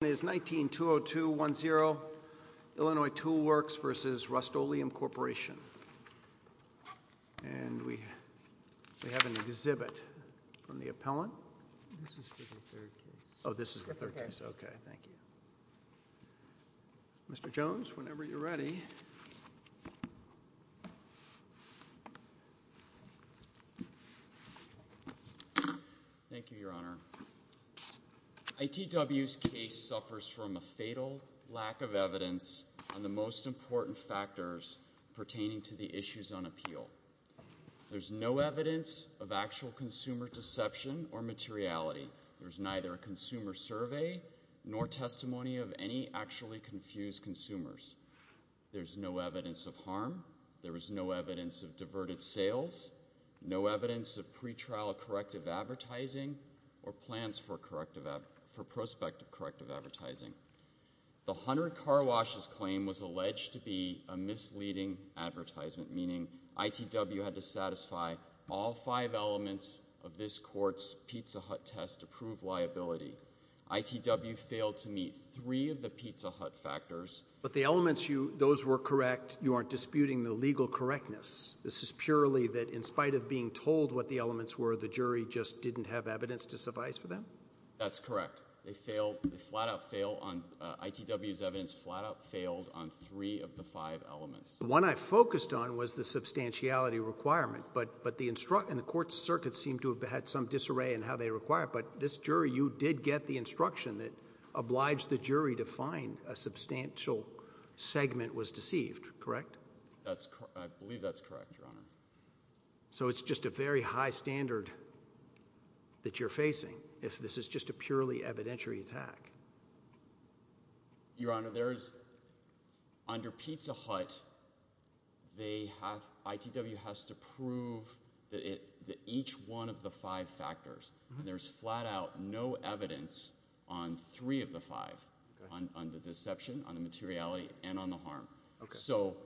19-20210, Illinois Tool Works v. Rust-Oleum Corporation. And we have an exhibit from the appellant. This is for the third case. Oh, this is the third case. Okay, thank you. Mr. Jones, whenever you're ready. Thank you, Your Honor. ITW's case suffers from a fatal lack of evidence on the most important factors pertaining to the issues on appeal. There's no evidence of actual consumer deception or materiality. There's neither a consumer survey nor testimony of any actually confused consumers. There's no evidence of harm. There is no evidence of diverted sales, no evidence of pretrial corrective advertising or plans for prospective corrective advertising. The Hunter-Karwash's claim was alleged to be a misleading advertisement, meaning ITW had to satisfy all five elements of this court's Pizza Hut test to prove liability. ITW failed to meet three of the Pizza Hut factors. But the elements, those were correct. You aren't disputing the legal correctness. This is purely that in spite of being told what the elements were, the jury just didn't have evidence to suffice for them? That's correct. They flat-out failed on ITW's evidence, flat-out failed on three of the five elements. The one I focused on was the substantiality requirement, and the court's circuit seemed to have had some disarray in how they required it, but this jury, you did get the instruction that obliged the jury to find a substantial segment was deceived, correct? I believe that's correct, Your Honor. So it's just a very high standard that you're facing if this is just a purely evidentiary attack? Your Honor, under Pizza Hut, ITW has to prove that each one of the five factors, and there's flat-out no evidence on three of the five, so...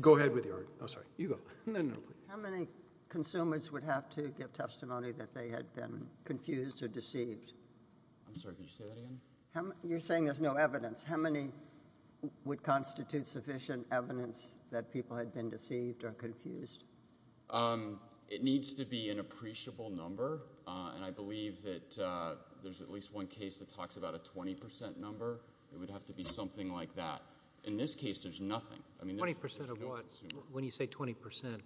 Go ahead with your argument. I'm sorry, you go. How many consumers would have to give testimony that they had been confused or deceived? I'm sorry, could you say that again? You're saying there's no evidence. How many would constitute sufficient evidence that people had been deceived or confused? It needs to be an appreciable number, and I believe that there's at least one case that talks about a 20% number. It would have to be something like that. In this case, there's nothing. 20% of what? When you say 20%?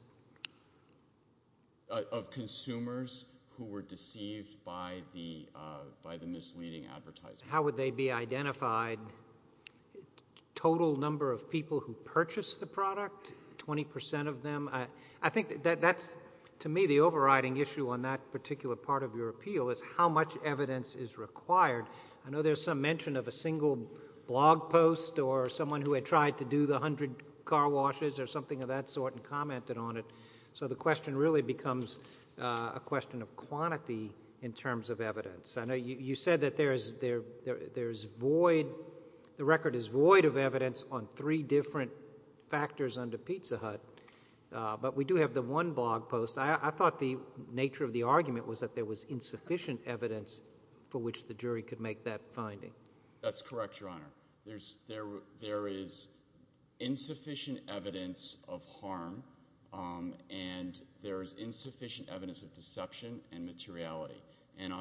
Of consumers who were deceived by the misleading advertisement. How would they be identified? Total number of people who purchased the product, 20% of them? I think that's, to me, the overriding issue on that particular part of your appeal is how much evidence is required. I know there's some mention of a single blog post or someone who had tried to do the 100 car washes or something of that sort and commented on it, so the question really becomes a question of quantity in terms of evidence. You said that the record is void of evidence on three different factors under Pizza Hut, but we do have the one blog post. I thought the nature of the argument was that there was insufficient evidence for which the jury could make that finding. That's correct, Your Honour. There is insufficient evidence of harm and there is insufficient evidence of deception and materiality. And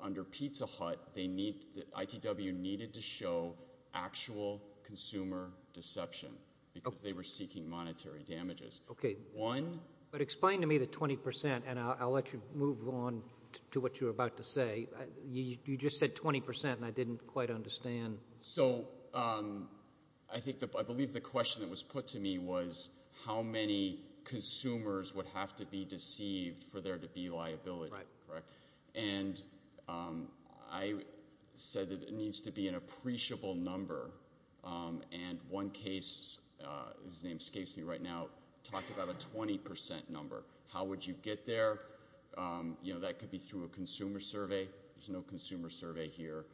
under Pizza Hut, ITW needed to show actual consumer deception because they were seeking monetary damages. OK, but explain to me the 20%, and I'll let you move on to what you were about to say. You just said 20%, and I didn't quite understand. So I believe the question that was put to me was how many consumers would have to be deceived for there to be liability, correct? And I said that it needs to be an appreciable number, and one case, whose name escapes me right now, talked about a 20% number. How would you get there? You know, that could be through a consumer survey. There's no consumer survey here.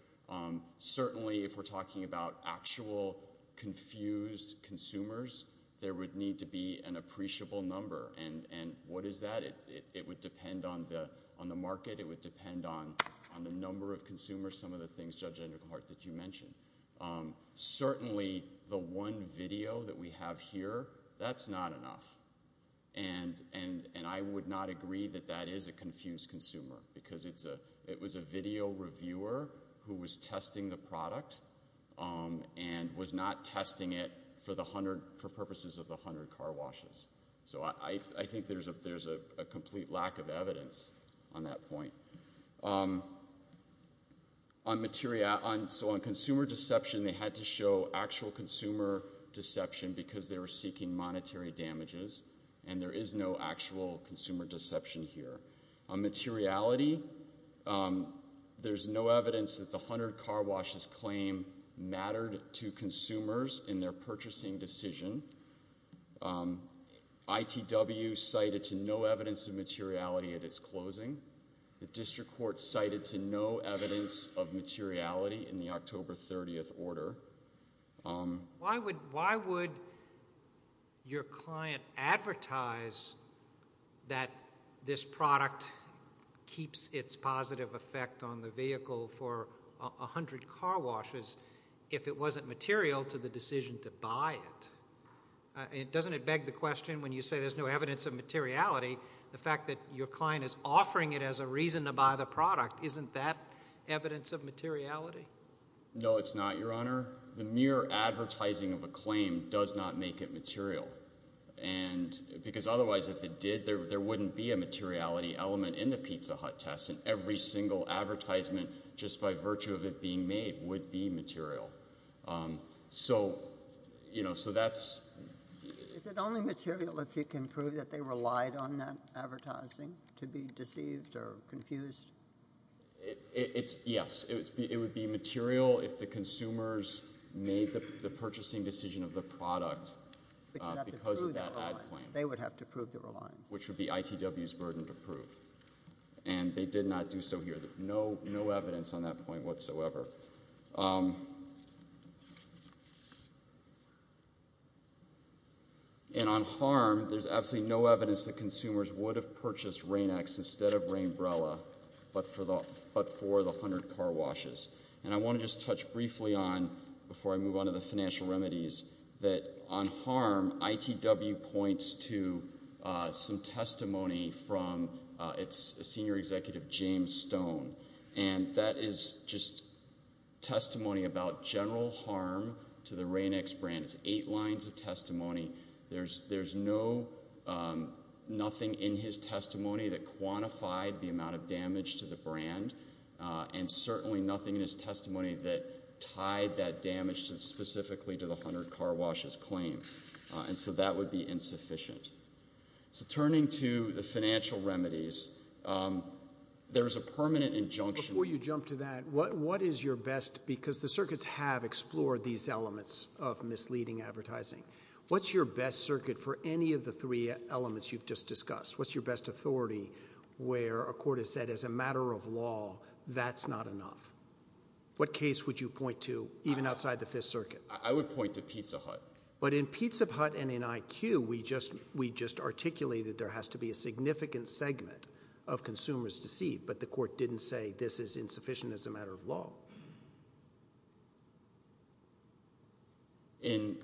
Certainly, if we're talking about actual confused consumers, there would need to be an appreciable number. And what is that? It would depend on the market. It would depend on the number of consumers, some of the things, Judge Enderhart, that you mentioned. Certainly, the one video that we have here, that's not enough. And I would not agree that that is a confused consumer, because it was a video reviewer who was testing the product and was not testing it for purposes of the 100 car washes. So I think there's a complete lack of evidence on that point. So on consumer deception, they had to show actual consumer deception because they were seeking monetary damages, and there is no actual consumer deception here. On materiality, there's no evidence that the 100 car washes claim mattered to consumers in their purchasing decision. ITW cited to no evidence of materiality at its closing. The district court cited to no evidence of materiality in the October 30th order. Why would your client advertise that this product keeps its positive effect on the vehicle for 100 car washes if it wasn't material to the decision to buy it? Doesn't it beg the question, when you say there's no evidence of materiality, the fact that your client is offering it as a reason to buy the product, isn't that evidence of materiality? No, it's not, Your Honor. The mere advertising of a claim does not make it material. Because otherwise, if it did, there wouldn't be a materiality element in the Pizza Hut test, and every single advertisement, just by virtue of it being made, would be material. So, you know, so that's... Is it only material if you can prove that they relied on that advertising to be deceived or confused? It's... Yes. It would be material if the consumers made the purchasing decision of the product because of that ad claim. They would have to prove their reliance. Which would be ITW's burden to prove. And they did not do so here. No evidence on that point whatsoever. And on harm, there's absolutely no evidence that consumers would have purchased Rain-X instead of Rain-Brella, but for the 100 car washes. And I want to just touch briefly on, before I move on to the financial remedies, that on harm, ITW points to some testimony from its senior executive, James Stone. And that is just testimony about general harm to the Rain-X brand. It's eight lines of testimony. There's no... He quantified the amount of damage to the brand, and certainly nothing in his testimony that tied that damage specifically to the 100 car washes claim. And so that would be insufficient. So turning to the financial remedies, there's a permanent injunction... Before you jump to that, what is your best... Because the circuits have explored these elements of misleading advertising. What's your best circuit for any of the three elements you've just discussed? What's your best authority where a court has said, as a matter of law, that's not enough? What case would you point to, even outside the Fifth Circuit? I would point to Pizza Hut. But in Pizza Hut and in IQ, we just articulated there has to be a significant segment of consumers deceived, but the court didn't say this is insufficient as a matter of law. In...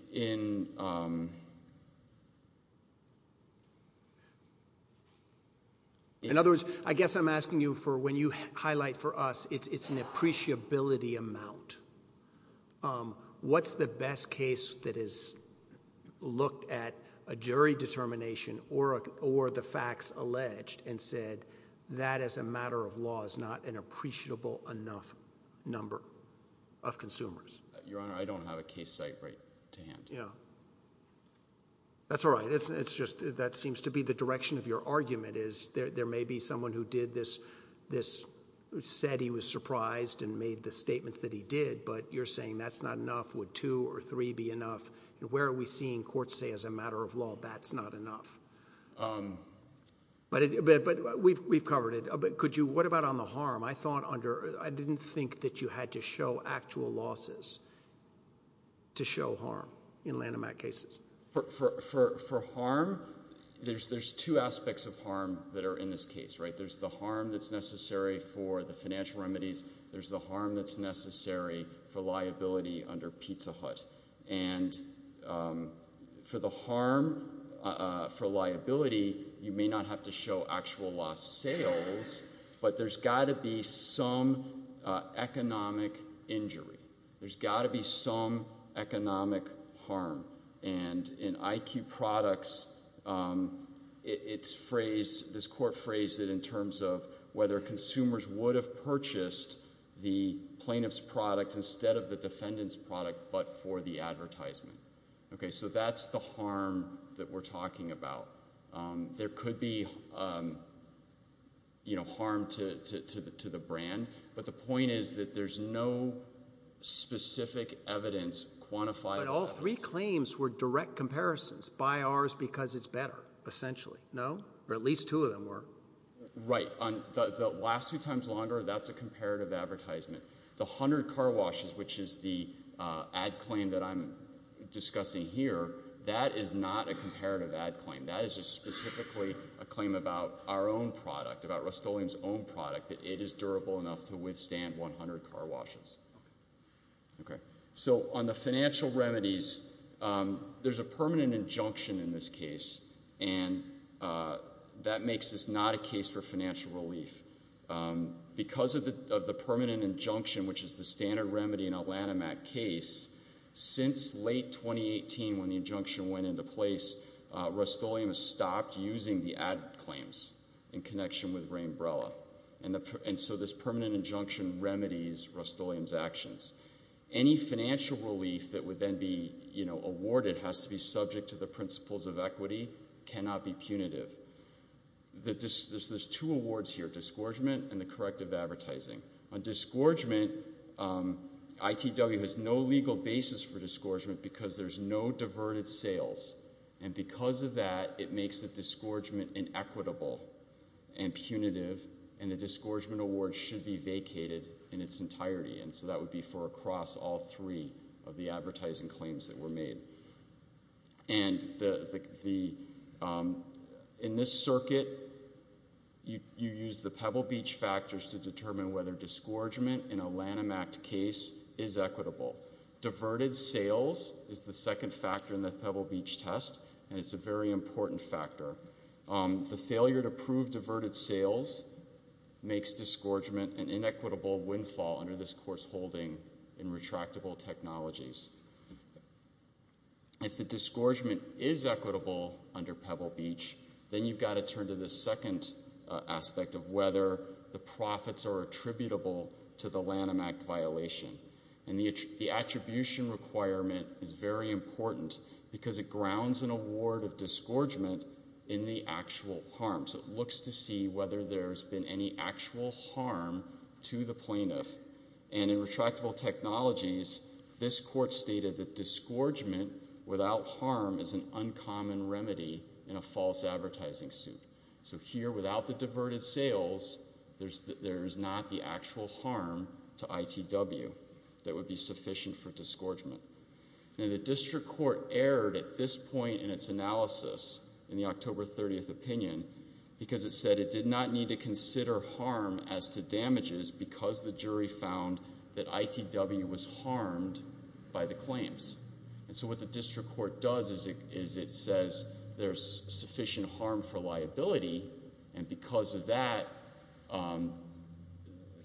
In other words, I guess I'm asking you for when you highlight for us it's an appreciability amount. What's the best case that has looked at a jury determination or the facts alleged and said that as a matter of law is not an appreciable enough number of consumers? Your Honor, I don't have a case site right to hand. Yeah. That's all right. It's just that seems to be the direction of your argument is there may be someone who did this, said he was surprised and made the statements that he did, but you're saying that's not enough. Would two or three be enough? Where are we seeing courts say, as a matter of law, that's not enough? But we've covered it. Could you... What about on the harm? I thought under... I didn't think that you had to show actual losses to show harm in Lanham Act cases. For harm, there's two aspects of harm that are in this case. There's the harm that's necessary for the financial remedies. There's the harm that's necessary for liability under Pizza Hut. And for the harm for liability, you may not have to show actual loss sales, but there's got to be some economic injury. There's got to be some economic harm. And in IQ Products, it's phrased, this court phrased it in terms of whether consumers would have purchased the plaintiff's product instead of the defendant's product but for the advertisement. Okay, so that's the harm that we're talking about. There could be, you know, harm to the brand, but the point is that there's no specific evidence But all three claims were direct comparisons by ours because it's better, essentially, no? Or at least two of them were. Right, the last two times longer, that's a comparative advertisement. The 100 car washes, which is the ad claim that I'm discussing here, that is not a comparative ad claim. That is just specifically a claim about our own product, about Rust-Oleum's own product, that it is durable enough to withstand 100 car washes. Okay, so on the financial remedies, there's a permanent injunction in this case, and that makes this not a case for financial relief. Because of the permanent injunction, which is the standard remedy in a Lanham Act case, since late 2018, when the injunction went into place, Rust-Oleum has stopped using the ad claims in connection with Rainbrella. And so this permanent injunction remedies Rust-Oleum's actions. Any financial relief that would then be, you know, awarded has to be subject to the principles of equity, cannot be punitive. There's two awards here, disgorgement and the corrective advertising. On disgorgement, ITW has no legal basis for disgorgement because there's no diverted sales. And because of that, it makes the disgorgement inequitable and punitive, and the disgorgement award should be vacated in its entirety. And so that would be for across all three of the advertising claims that were made. And the... In this circuit, you use the Pebble Beach factors to determine whether disgorgement in a Lanham Act case is equitable. Diverted sales is the second factor in the Pebble Beach test, and it's a very important factor. The failure to prove diverted sales makes disgorgement an inequitable windfall under this course holding in retractable technologies. If the disgorgement is equitable under Pebble Beach, then you've got to turn to the second aspect of whether the profits are attributable to the Lanham Act violation. And the attribution requirement is very important because it grounds an award of disgorgement in the actual harm. So it looks to see whether there's been any actual harm to the plaintiff. And in retractable technologies, this court stated that disgorgement without harm is an uncommon remedy in a false advertising suit. So here, without the diverted sales, there's not the actual harm to ITW that would be sufficient for disgorgement. Now, the district court erred at this point in its analysis in the October 30th opinion because it said it did not need to consider harm as to damages because the jury found that ITW was harmed by the claims. And so what the district court does is it says there's sufficient harm for liability, and because of that,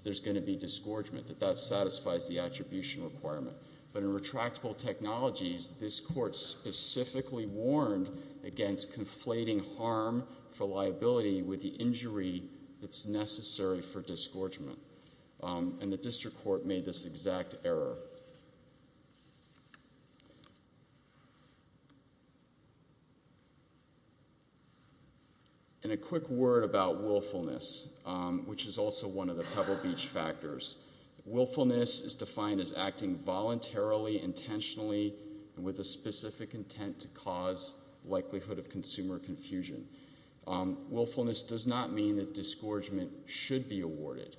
there's going to be disgorgement, that that satisfies the attribution requirement. But in retractable technologies, this court specifically warned against conflating harm for liability with the injury that's necessary for disgorgement. And the district court made this exact error. And a quick word about willfulness, which is also one of the Pebble Beach factors. Willfulness is defined as acting voluntarily, intentionally, and with a specific intent to cause likelihood of consumer confusion. Willfulness does not mean that disgorgement should be awarded.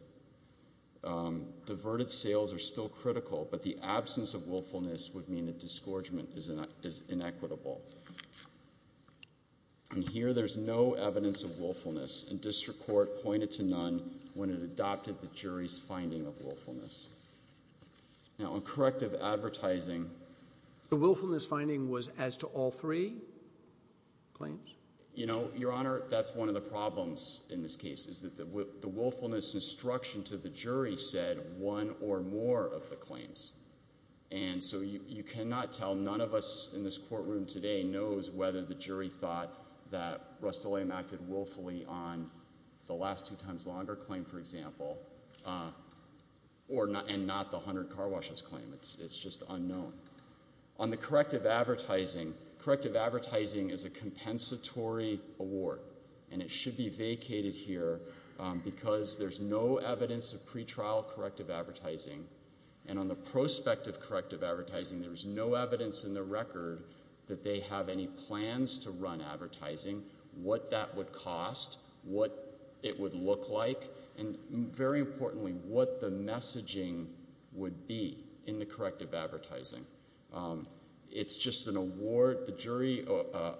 Diverted sales are still critical, but the absence of willfulness would mean that disgorgement is inequitable. And here, there's no evidence of willfulness, and district court pointed to none when it adopted the jury's finding of willfulness. Now, on corrective advertising... The willfulness finding was as to all three claims? You know, Your Honor, that's one of the problems in this case, is that the willfulness instruction to the jury said one or more of the claims. And so you cannot tell. None of us in this courtroom today knows whether the jury thought that Rustalliam acted willfully on the last two times longer claim, for example, and not the 100 car washes claim. It's just unknown. On the corrective advertising, corrective advertising is a compensatory award, and it should be vacated here because there's no evidence of pretrial corrective advertising. And on the prospect of corrective advertising, there's no evidence in the record that they have any plans to run advertising. What that would cost, what it would look like, and very importantly, what the messaging would be in the corrective advertising. It's just an award... The jury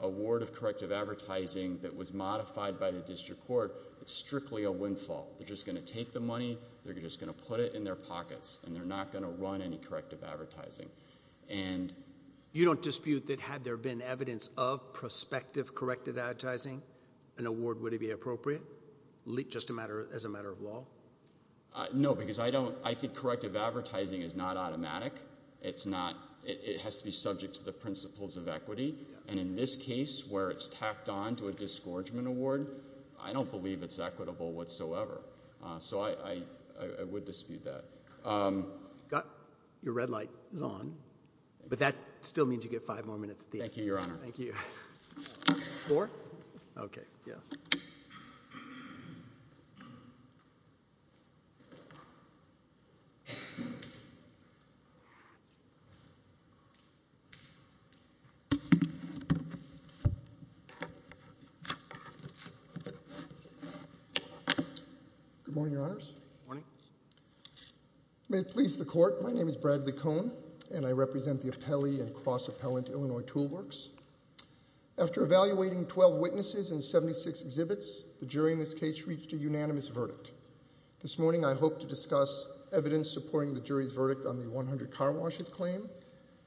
award of corrective advertising that was modified by the district court, it's strictly a windfall. They're just going to take the money, they're just going to put it in their pockets, and they're not going to run any corrective advertising. You don't dispute that had there been evidence of prospective corrective advertising, an award would it be appropriate, just as a matter of law? No, because I don't... I think corrective advertising is not automatic. It's not... It has to be subject to the principles of equity, and in this case, where it's tacked on to a disgorgement award, I don't believe it's equitable whatsoever. So I would dispute that. Your red light is on. But that still means you get five more minutes at the end. Thank you, Your Honor. Four? Okay, yes. Good morning, Your Honors. Good morning. May it please the Court, my name is Bradley Cohn, and I represent the Appellee and Cross-Appellant Illinois Toolworks. After evaluating 12 witnesses and 76 exhibits, the jury in this case reached a unanimous verdict. This morning I hope to discuss evidence supporting the jury's verdict on the 100 car washes claim,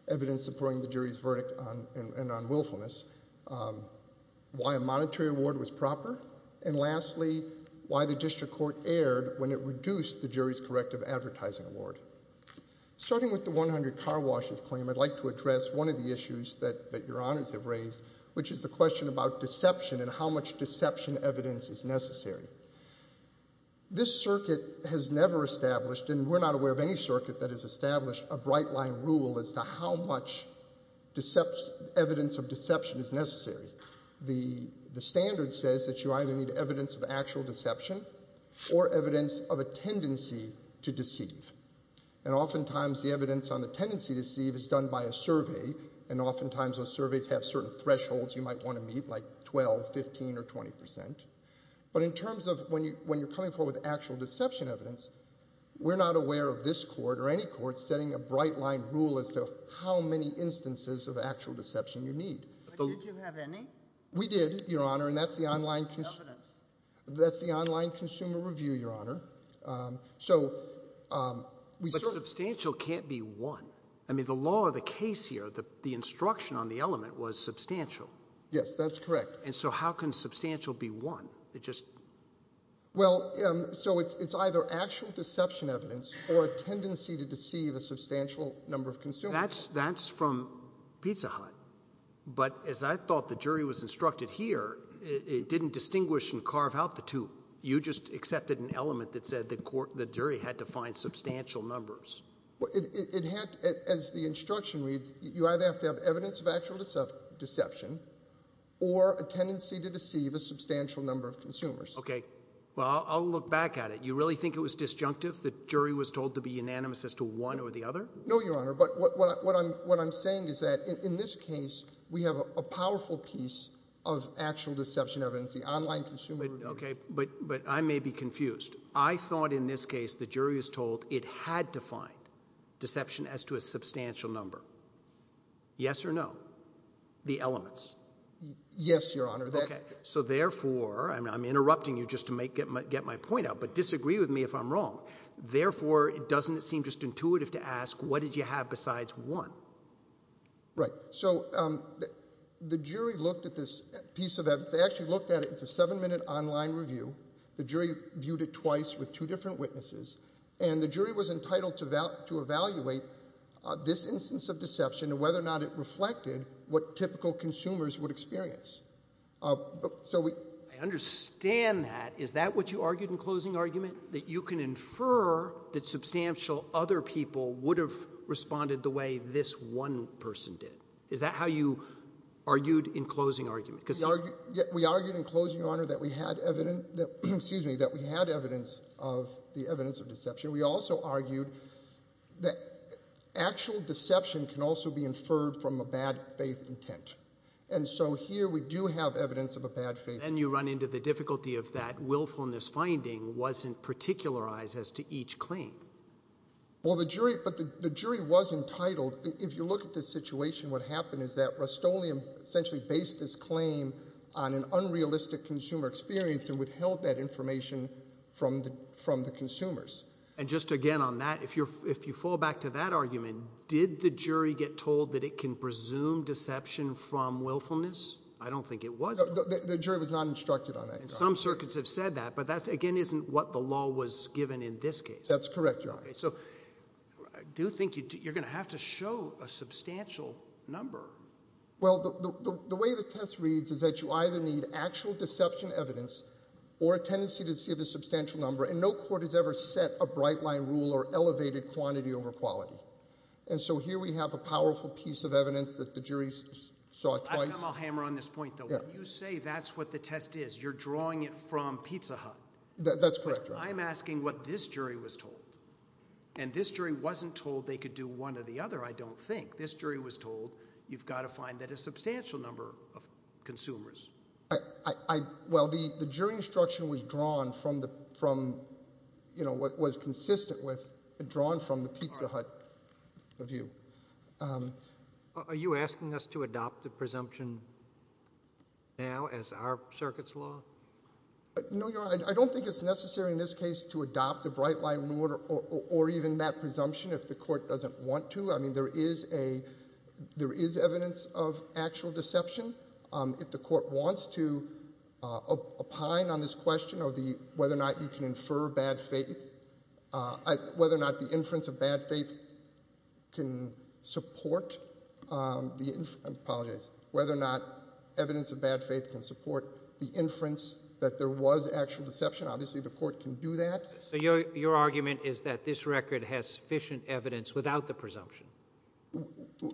evidence supporting the jury's verdict on willfulness, why a monetary award was proper, and lastly, why the district court erred when it reduced the jury's corrective advertising award. Starting with the 100 car washes claim, I'd like to address one of the issues that Your Honors have raised, which is the question about deception and how much deception evidence is necessary. This circuit has never established, and we're not aware of any circuit that has established, a bright-line rule as to how much evidence of deception is necessary. The standard says that you either need evidence of actual deception or evidence of a tendency to deceive. And oftentimes the evidence on the tendency to deceive is done by a survey, and oftentimes those surveys have certain thresholds you might want to meet, like 12, 15, or 20%. But in terms of when you're coming forward with actual deception evidence, we're not aware of this court or any court setting a bright-line rule as to how many instances of actual deception you need. But did you have any? We did, Your Honor, and that's the online... But substantial can't be one. I mean, the law of the case here, the instruction on the element was substantial. Yes, that's correct. And so how can substantial be one? It just... Well, so it's either actual deception evidence or a tendency to deceive a substantial number of consumers. That's from Pizza Hut. But as I thought the jury was instructed here, it didn't distinguish and carve out the two. You just accepted an element that said the jury had to find substantial numbers. Well, it had... As the instruction reads, you either have to have evidence of actual deception or a tendency to deceive a substantial number of consumers. Okay. Well, I'll look back at it. You really think it was disjunctive, the jury was told to be unanimous as to one or the other? No, Your Honor, but what I'm saying is that in this case, we have a powerful piece of actual deception evidence, the online consumer... Okay, but I may be confused. I thought in this case the jury was told it had to find deception as to a substantial number. Yes or no? The elements. Yes, Your Honor. Okay. So therefore, I'm interrupting you just to get my point out, but disagree with me if I'm wrong. Therefore, doesn't it seem just intuitive to ask, what did you have besides one? Right. So the jury looked at this piece of evidence. They actually looked at it. It's a seven-minute online review. The jury viewed it twice with two different witnesses, and the jury was entitled to evaluate this instance of deception and whether or not it reflected what typical consumers would experience. I understand that. Is that what you argued in closing argument, that you can infer that substantial other people would have responded the way this one person did? Is that how you argued in closing argument? We argued in closing, Your Honor, that we had evidence of deception. We also argued that actual deception can also be inferred from a bad faith intent. And so here we do have evidence of a bad faith intent. And you run into the difficulty of that willfulness finding wasn't particularized as to each claim. Well, the jury was entitled. If you look at this situation, what happened is that Rustoleum essentially based this claim on an unrealistic consumer experience and withheld that information from the consumers. And just again on that, if you fall back to that argument, did the jury get told that it can presume deception from willfulness? I don't think it was. The jury was not instructed on that, Your Honor. Some circuits have said that, but that, again, isn't what the law was given in this case. That's correct, Your Honor. So I do think you're going to have to show a substantial number. Well, the way the test reads is that you either need actual deception evidence or a tendency to see the substantial number, and no court has ever set a bright line rule or elevated quantity over quality. And so here we have a powerful piece of evidence that the jury saw twice. Last time I'll hammer on this point, though. When you say that's what the test is, you're drawing it from Pizza Hut. That's correct, Your Honor. I'm asking what this jury was told. And this jury wasn't told they could do one or the other, I don't think. This jury was told you've got to find that a substantial number of consumers. Well, the jury instruction was drawn from what was consistent with and drawn from the Pizza Hut view. Are you asking us to adopt the presumption now as our circuit's law? No, Your Honor. I don't think it's necessary in this case to adopt the bright line rule or even that presumption if the court doesn't want to. I mean, there is evidence of actual deception. If the court wants to opine on this question of whether or not you can infer bad faith, whether or not the inference of bad faith can support the inference. I apologize. Whether or not evidence of bad faith can support the inference that there was actual deception. Obviously, the court can do that. So your argument is that this record has sufficient evidence without the presumption?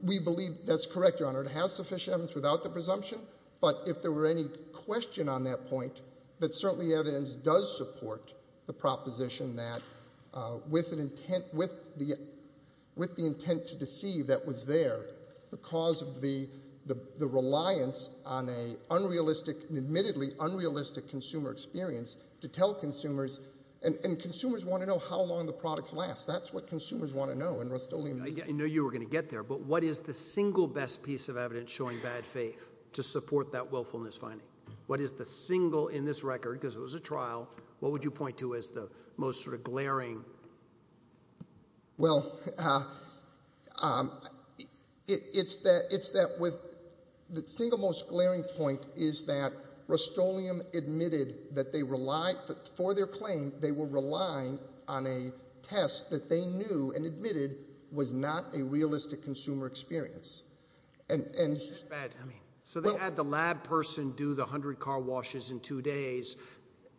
We believe that's correct, Your Honor. It has sufficient evidence without the presumption. But if there were any question on that point, that certainly evidence does support the proposition that with the intent to deceive that was there, the cause of the reliance on an admittedly unrealistic consumer experience to tell consumers, and consumers want to know how long the products last. That's what consumers want to know in Rust-Oleum. I know you were going to get there, but what is the single best piece of evidence showing bad faith to support that willfulness finding? What is the single in this record, because it was a trial, what would you point to as the most sort of glaring? Well, it's that with the single most glaring point is that Rust-Oleum admitted that they relied, for their claim, they were relying on a test that they knew and admitted was not a realistic consumer experience. So they had the lab person do the 100 car washes in two days.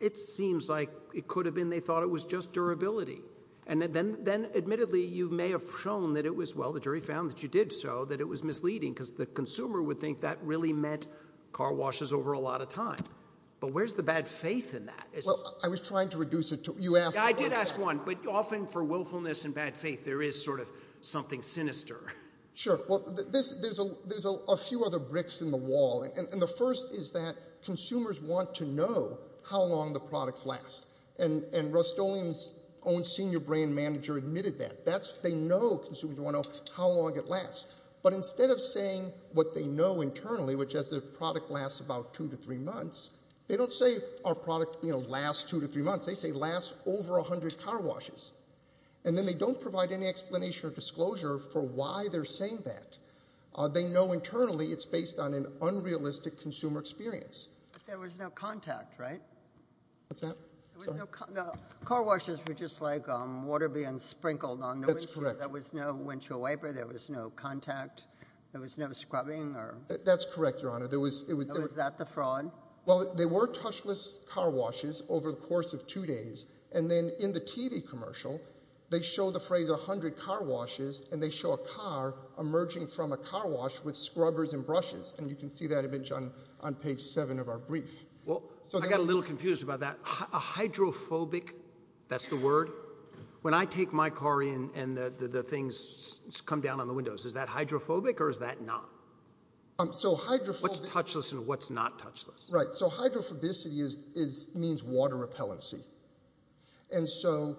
It seems like it could have been they thought it was just durability. And then admittedly you may have shown that it was, well, the jury found that you did so, that it was misleading because the consumer would think that really meant car washes over a lot of time. But where's the bad faith in that? Well, I was trying to reduce it to you asked. I did ask one, but often for willfulness and bad faith there is sort of something sinister. Sure. Well, there's a few other bricks in the wall. And the first is that consumers want to know how long the products last. And Rust-Oleum's own senior brand manager admitted that. They know consumers want to know how long it lasts. But instead of saying what they know internally, which is the product lasts about two to three months, they don't say our product lasts two to three months. They say it lasts over 100 car washes. And then they don't provide any explanation or disclosure for why they're saying that. They know internally it's based on an unrealistic consumer experience. There was no contact, right? What's that? Car washes were just like water being sprinkled on the windshield. That's correct. There was no windshield wiper. There was no contact. There was no scrubbing. That's correct, Your Honor. Was that the fraud? Well, there were touchless car washes over the course of two days. And then in the TV commercial, they show the phrase 100 car washes, and they show a car emerging from a car wash with scrubbers and brushes. And you can see that image on page seven of our brief. Well, I got a little confused about that. A hydrophobic, that's the word? When I take my car in and the things come down on the windows, is that hydrophobic or is that not? So hydrophobic. What's touchless and what's not touchless? Right. So hydrophobicity means water repellency. And so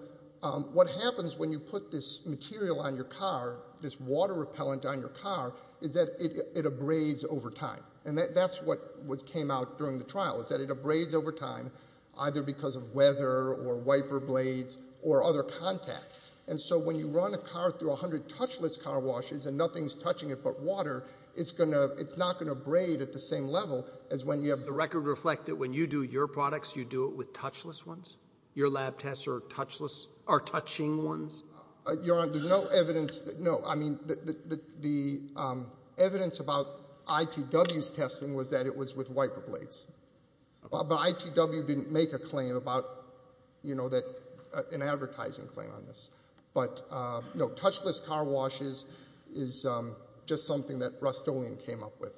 what happens when you put this material on your car, this water repellent on your car, is that it abrades over time. And that's what came out during the trial, is that it abrades over time either because of weather or wiper blades or other contact. And so when you run a car through 100 touchless car washes and nothing's touching it but water, it's not going to abrade at the same level as when you have Does the record reflect that when you do your products, you do it with touchless ones? Your lab tests are touching ones? Your Honor, there's no evidence. No, I mean, the evidence about ITW's testing was that it was with wiper blades. But ITW didn't make a claim about, you know, an advertising claim on this. But, no, touchless car washes is just something that Rust-Oleum came up with.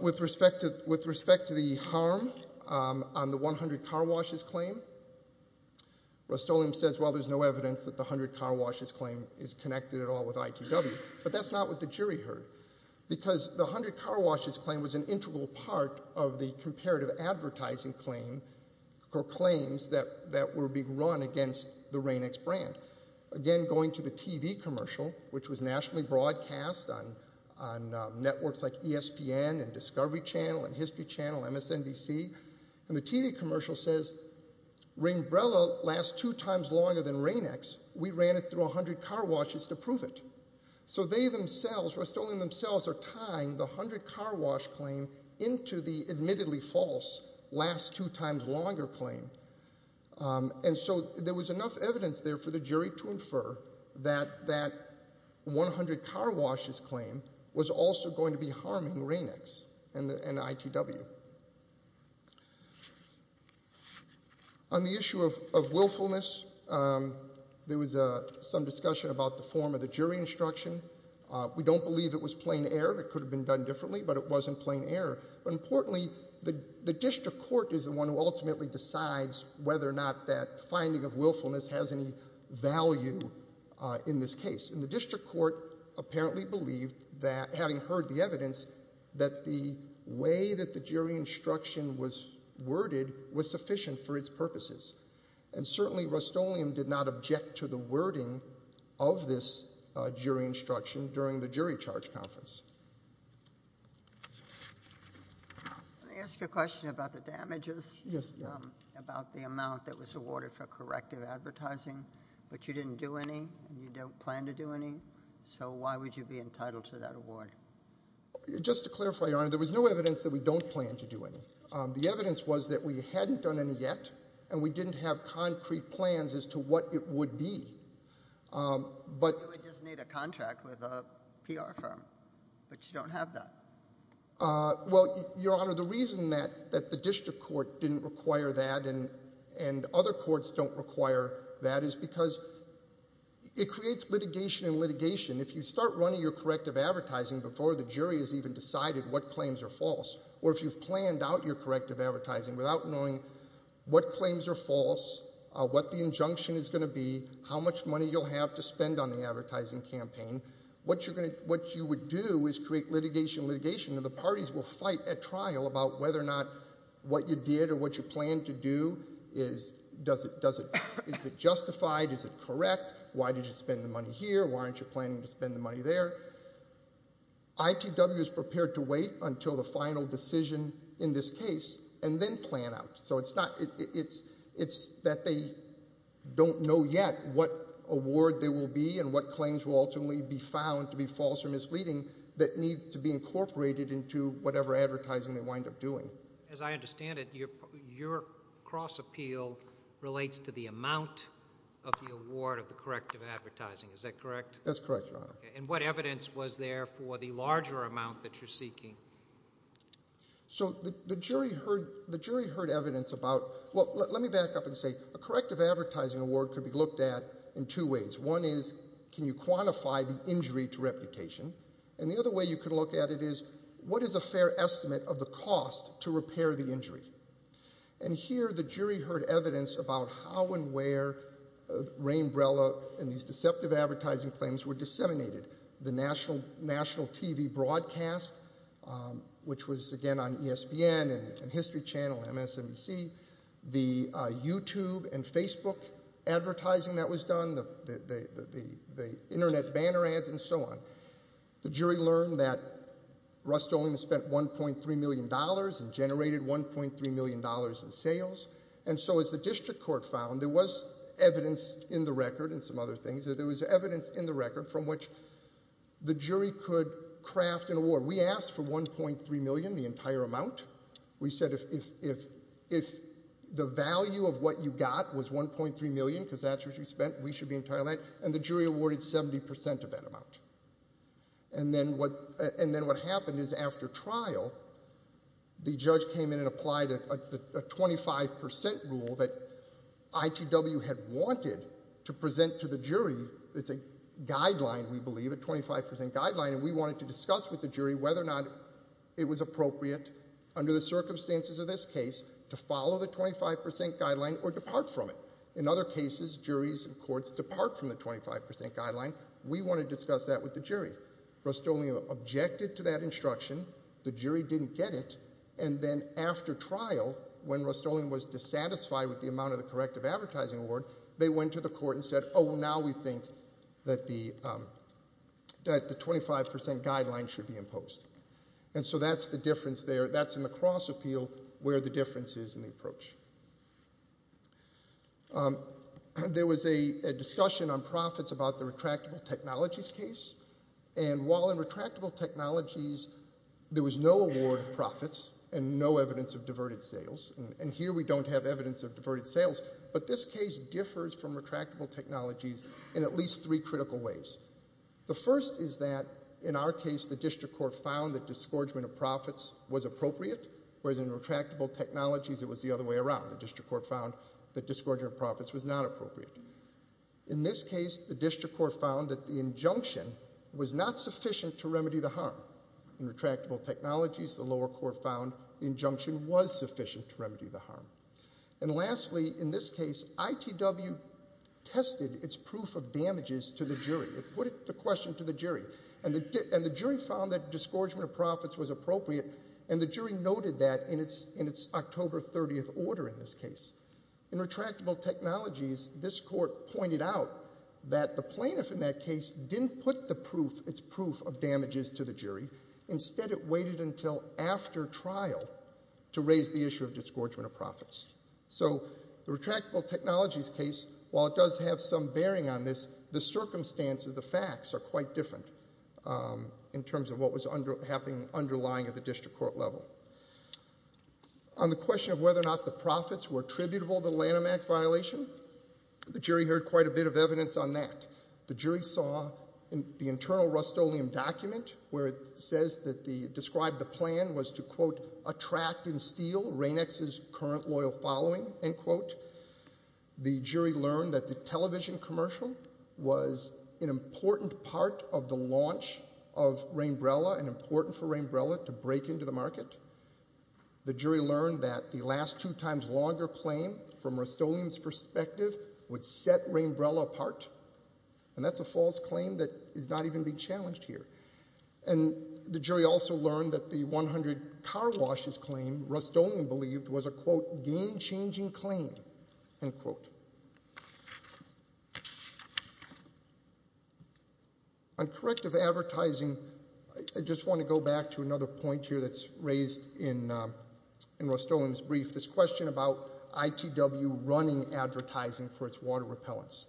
With respect to the harm on the 100 car washes claim, Rust-Oleum says, well, there's no evidence that the 100 car washes claim is connected at all with ITW. But that's not what the jury heard. Because the 100 car washes claim was an integral part of the comparative advertising claim or claims that were being run against the Rain-X brand. Again, going to the TV commercial, which was nationally broadcast on networks like ESPN and Discovery Channel and History Channel, MSNBC. And the TV commercial says, Rainbrella lasts two times longer than Rain-X. We ran it through 100 car washes to prove it. So they themselves, Rust-Oleum themselves, are tying the 100 car wash claim into the admittedly false last two times longer claim. And so there was enough evidence there for the jury to infer that that 100 car washes claim was also going to be harming Rain-X and ITW. On the issue of willfulness, there was some discussion about the form of the jury instruction. We don't believe it was plain error. It could have been done differently, but it wasn't plain error. But importantly, the district court is the one who ultimately decides whether or not that finding of willfulness has any value in this case. And the district court apparently believed, having heard the evidence, that the way that the jury instruction was worded was sufficient for its purposes. And certainly Rust-Oleum did not object to the wording of this jury instruction during the jury charge conference. Let me ask you a question about the damages, about the amount that was awarded for corrective advertising. But you didn't do any, and you don't plan to do any. So why would you be entitled to that award? Just to clarify, Your Honor, there was no evidence that we don't plan to do any. The evidence was that we hadn't done any yet, and we didn't have concrete plans as to what it would be. You would just need a contract with a PR firm, but you don't have that. Well, Your Honor, the reason that the district court didn't require that and other courts don't require that is because it creates litigation and litigation. If you start running your corrective advertising before the jury has even decided what claims are false, or if you've planned out your corrective advertising without knowing what claims are false, what the injunction is going to be, how much money you'll have to spend on the advertising campaign, what you would do is create litigation and litigation, and the parties will fight at trial about whether or not what you did or what you planned to do, is it justified, is it correct, why did you spend the money here, why aren't you planning to spend the money there. ITW is prepared to wait until the final decision in this case and then plan out. So it's that they don't know yet what award there will be and what claims will ultimately be found to be false or misleading that needs to be incorporated into whatever advertising they wind up doing. As I understand it, your cross appeal relates to the amount of the award of the corrective advertising, is that correct? That's correct, Your Honor. And what evidence was there for the larger amount that you're seeking? So the jury heard evidence about, well, let me back up and say, a corrective advertising award could be looked at in two ways. One is, can you quantify the injury to reputation? And the other way you could look at it is, what is a fair estimate of the cost to repair the injury? And here the jury heard evidence about how and where Rainbrella and these deceptive advertising claims were disseminated. The national TV broadcast, which was, again, on ESPN and History Channel and MSNBC. The YouTube and Facebook advertising that was done. The internet banner ads and so on. The jury learned that Rust-Oleum spent $1.3 million and generated $1.3 million in sales. And so as the district court found, there was evidence in the record and some other things, there was evidence in the record from which the jury could craft an award. We asked for $1.3 million, the entire amount. We said if the value of what you got was $1.3 million because that's what you spent, we should be entitled to that, and the jury awarded 70% of that amount. And then what happened is after trial, the judge came in and applied a 25% rule that ITW had wanted to present to the jury. It's a guideline, we believe, a 25% guideline. And we wanted to discuss with the jury whether or not it was appropriate under the circumstances of this case to follow the 25% guideline or depart from it. In other cases, juries and courts depart from the 25% guideline. We want to discuss that with the jury. Rust-Oleum objected to that instruction. The jury didn't get it. And then after trial, when Rust-Oleum was dissatisfied with the amount of the corrective advertising award, they went to the court and said, oh, now we think that the 25% guideline should be imposed. And so that's the difference there. That's in the cross appeal where the difference is in the approach. There was a discussion on profits about the retractable technologies case. And while in retractable technologies there was no award of profits and no evidence of diverted sales, and here we don't have evidence of diverted sales, but this case differs from retractable technologies in at least three critical ways. The first is that in our case the district court found that disgorgement of profits was appropriate, whereas in retractable technologies it was the other way around. The district court found that disgorgement of profits was not appropriate. In this case, the district court found that the injunction was not sufficient to remedy the harm. In retractable technologies, the lower court found the injunction was sufficient to remedy the harm. And lastly, in this case, ITW tested its proof of damages to the jury. It put the question to the jury. And the jury found that disgorgement of profits was appropriate, and the jury noted that in its October 30th order in this case. In retractable technologies, this court pointed out that the plaintiff in that case didn't put the proof, its proof of damages to the jury. Instead, it waited until after trial to raise the issue of disgorgement of profits. So the retractable technologies case, while it does have some bearing on this, the circumstances, the facts are quite different in terms of what was happening underlying at the district court level. On the question of whether or not the profits were attributable to the Lanham Act violation, the jury heard quite a bit of evidence on that. The jury saw the internal Rust-Oleum document where it says that the, described the plan was to, quote, attract and steal Rainex's current loyal following, end quote. The jury learned that the television commercial was an important part of the launch of Rainbrella and important for Rainbrella to break into the market. The jury learned that the last two times longer claim from Rust-Oleum's perspective would set Rainbrella apart, and that's a false claim that is not even being challenged here. And the jury also learned that the 100 car washes claim Rust-Oleum believed was a, quote, game-changing claim, end quote. On corrective advertising, I just want to go back to another point here that's raised in Rust-Oleum's brief, this question about ITW running advertising for its water repellents.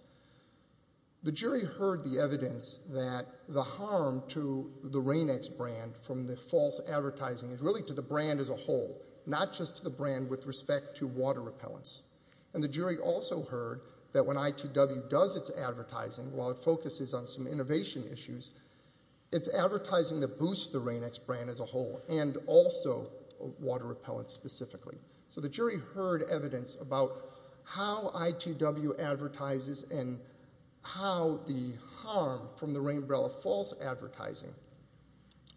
The jury heard the evidence that the harm to the Rainex brand from the false advertising is really to the brand as a whole, not just to the brand with respect to water repellents. And the jury also heard that when ITW does its advertising, while it focuses on some innovation issues, it's advertising that boosts the Rainex brand as a whole, and also water repellents specifically. So the jury heard evidence about how ITW advertises and how the harm from the Rainbrella false advertising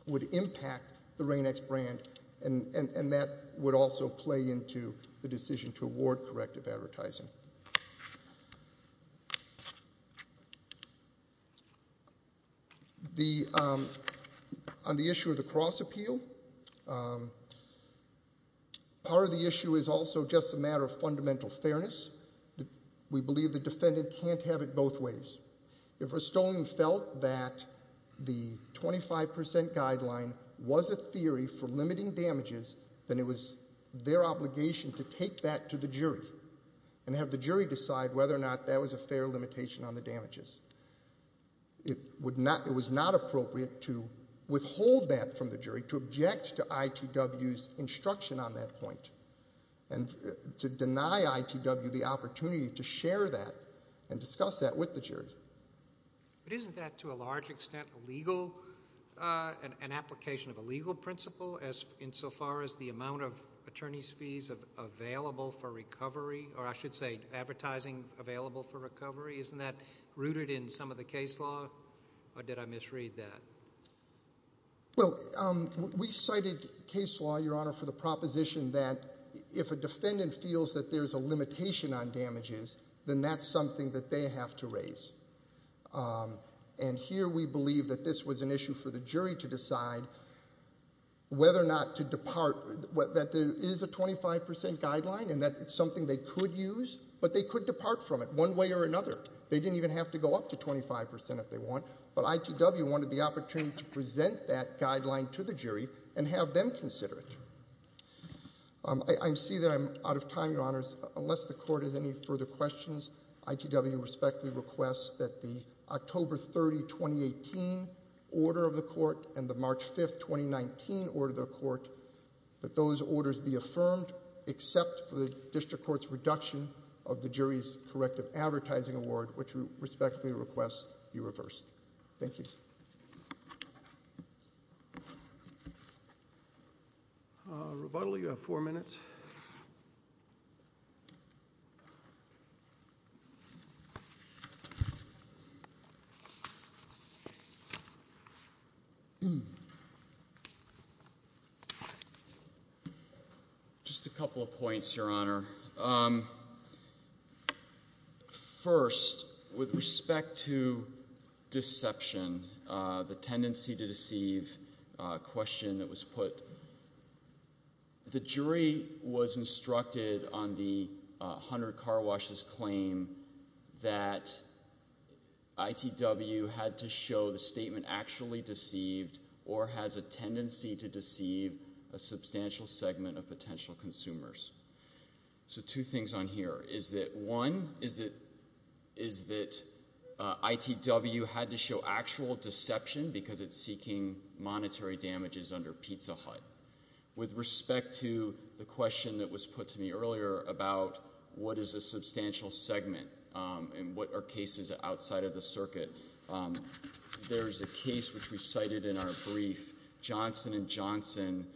would impact the Rainex brand, and that would also play into the decision to award corrective advertising. On the issue of the cross-appeal, part of the issue is also just a matter of fundamental fairness. We believe the defendant can't have it both ways. If Rust-Oleum felt that the 25% guideline was a theory for limiting damages, then it was their obligation to take that to the jury and have the jury decide whether or not that was a fair limitation on the damages. It was not appropriate to withhold that from the jury, to object to ITW's instruction on that point, and to deny ITW the opportunity to share that and discuss that with the jury. Isn't that to a large extent an application of a legal principle insofar as the amount of attorneys' fees available for recovery, or I should say advertising available for recovery, isn't that rooted in some of the case law, or did I misread that? Well, we cited case law, Your Honor, for the proposition that if a defendant feels that there's a limitation on damages, then that's something that they have to raise. And here we believe that this was an issue for the jury to decide whether or not to depart, that there is a 25% guideline and that it's something they could use, but they could depart from it one way or another. They didn't even have to go up to 25% if they want, but ITW wanted the opportunity to present that guideline to the jury and have them consider it. I see that I'm out of time, Your Honors. Unless the Court has any further questions, ITW respectfully requests that the October 30, 2018 order of the Court and the March 5, 2019 order of the Court, that those orders be affirmed except for the district court's reduction of the jury's corrective advertising award, which we respectfully request be reversed. Thank you. Rebuttal, you have four minutes. Just a couple of points, Your Honor. First, with respect to deception, the tendency to deceive question that was put, the jury was instructed on the Hunter Car Wash's claim that ITW had to show the statement or has a tendency to deceive a substantial segment of potential consumers. So two things on here is that, one, is that ITW had to show actual deception because it's seeking monetary damages under Pizza Hut. With respect to the question that was put to me earlier about what is a substantial segment and what are cases outside of the circuit, there is a case which we cited in our brief, Johnson & Johnson,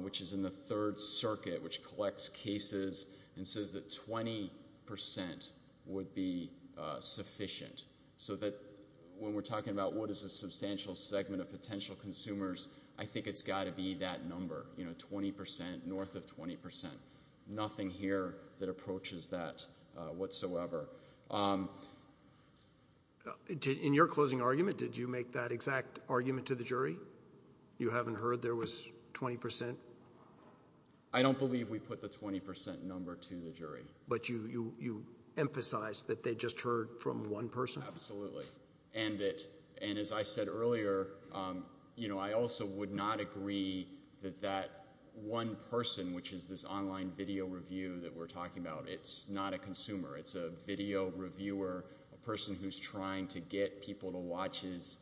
which is in the Third Circuit, which collects cases and says that 20 percent would be sufficient. So when we're talking about what is a substantial segment of potential consumers, I think it's got to be that number, 20 percent north of 20 percent. Nothing here that approaches that whatsoever. In your closing argument, did you make that exact argument to the jury? You haven't heard there was 20 percent? I don't believe we put the 20 percent number to the jury. But you emphasized that they just heard from one person? Absolutely. And as I said earlier, I also would not agree that that one person, which is this online video review that we're talking about, it's not a consumer. It's a video reviewer, a person who's trying to get people to watch his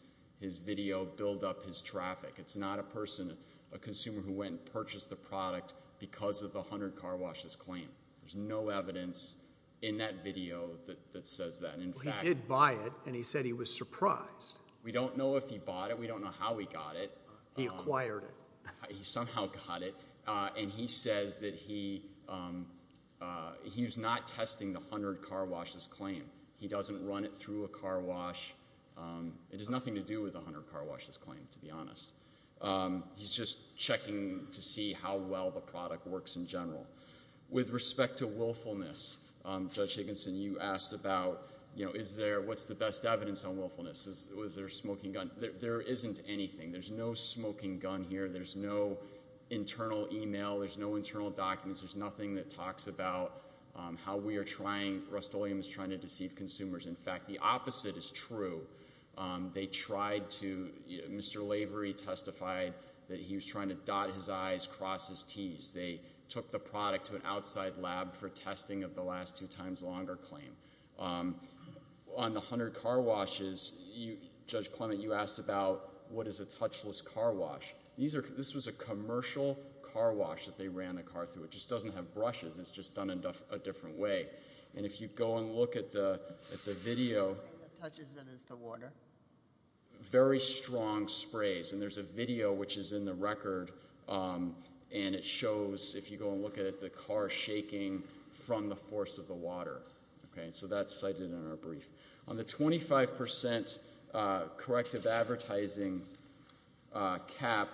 video build up his traffic. It's not a person, a consumer who went and purchased the product because of the 100 car washes claim. There's no evidence in that video that says that. Well, he did buy it, and he said he was surprised. We don't know if he bought it. We don't know how he got it. He acquired it. He somehow got it. And he says that he's not testing the 100 car washes claim. He doesn't run it through a car wash. It has nothing to do with the 100 car washes claim, to be honest. He's just checking to see how well the product works in general. With respect to willfulness, Judge Higginson, you asked about, you know, what's the best evidence on willfulness? Was there a smoking gun? There isn't anything. There's no smoking gun here. There's no internal e-mail. There's no internal documents. There's nothing that talks about how we are trying, Rust-Oleum is trying to deceive consumers. In fact, the opposite is true. They tried to, Mr. Lavery testified that he was trying to dot his I's, cross his T's. They took the product to an outside lab for testing of the last two times longer claim. On the 100 car washes, Judge Clement, you asked about what is a touchless car wash. This was a commercial car wash that they ran a car through. It just doesn't have brushes. It's just done a different way. And if you go and look at the video. The thing that touches it is the water. Very strong sprays. And there's a video which is in the record, and it shows, if you go and look at it, the car shaking from the force of the water. So that's cited in our brief. On the 25% corrective advertising cap,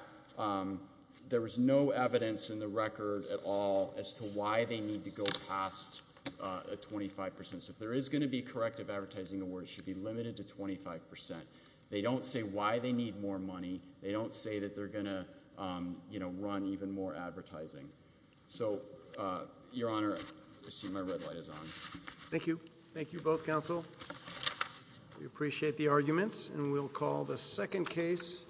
there was no evidence in the record at all as to why they need to go past a 25%. So if there is going to be corrective advertising award, it should be limited to 25%. They don't say why they need more money. They don't say that they're going to run even more advertising. So, Your Honor, I see my red light is on. Thank you. Thank you, both counsel. We appreciate the arguments, and we'll call the second case.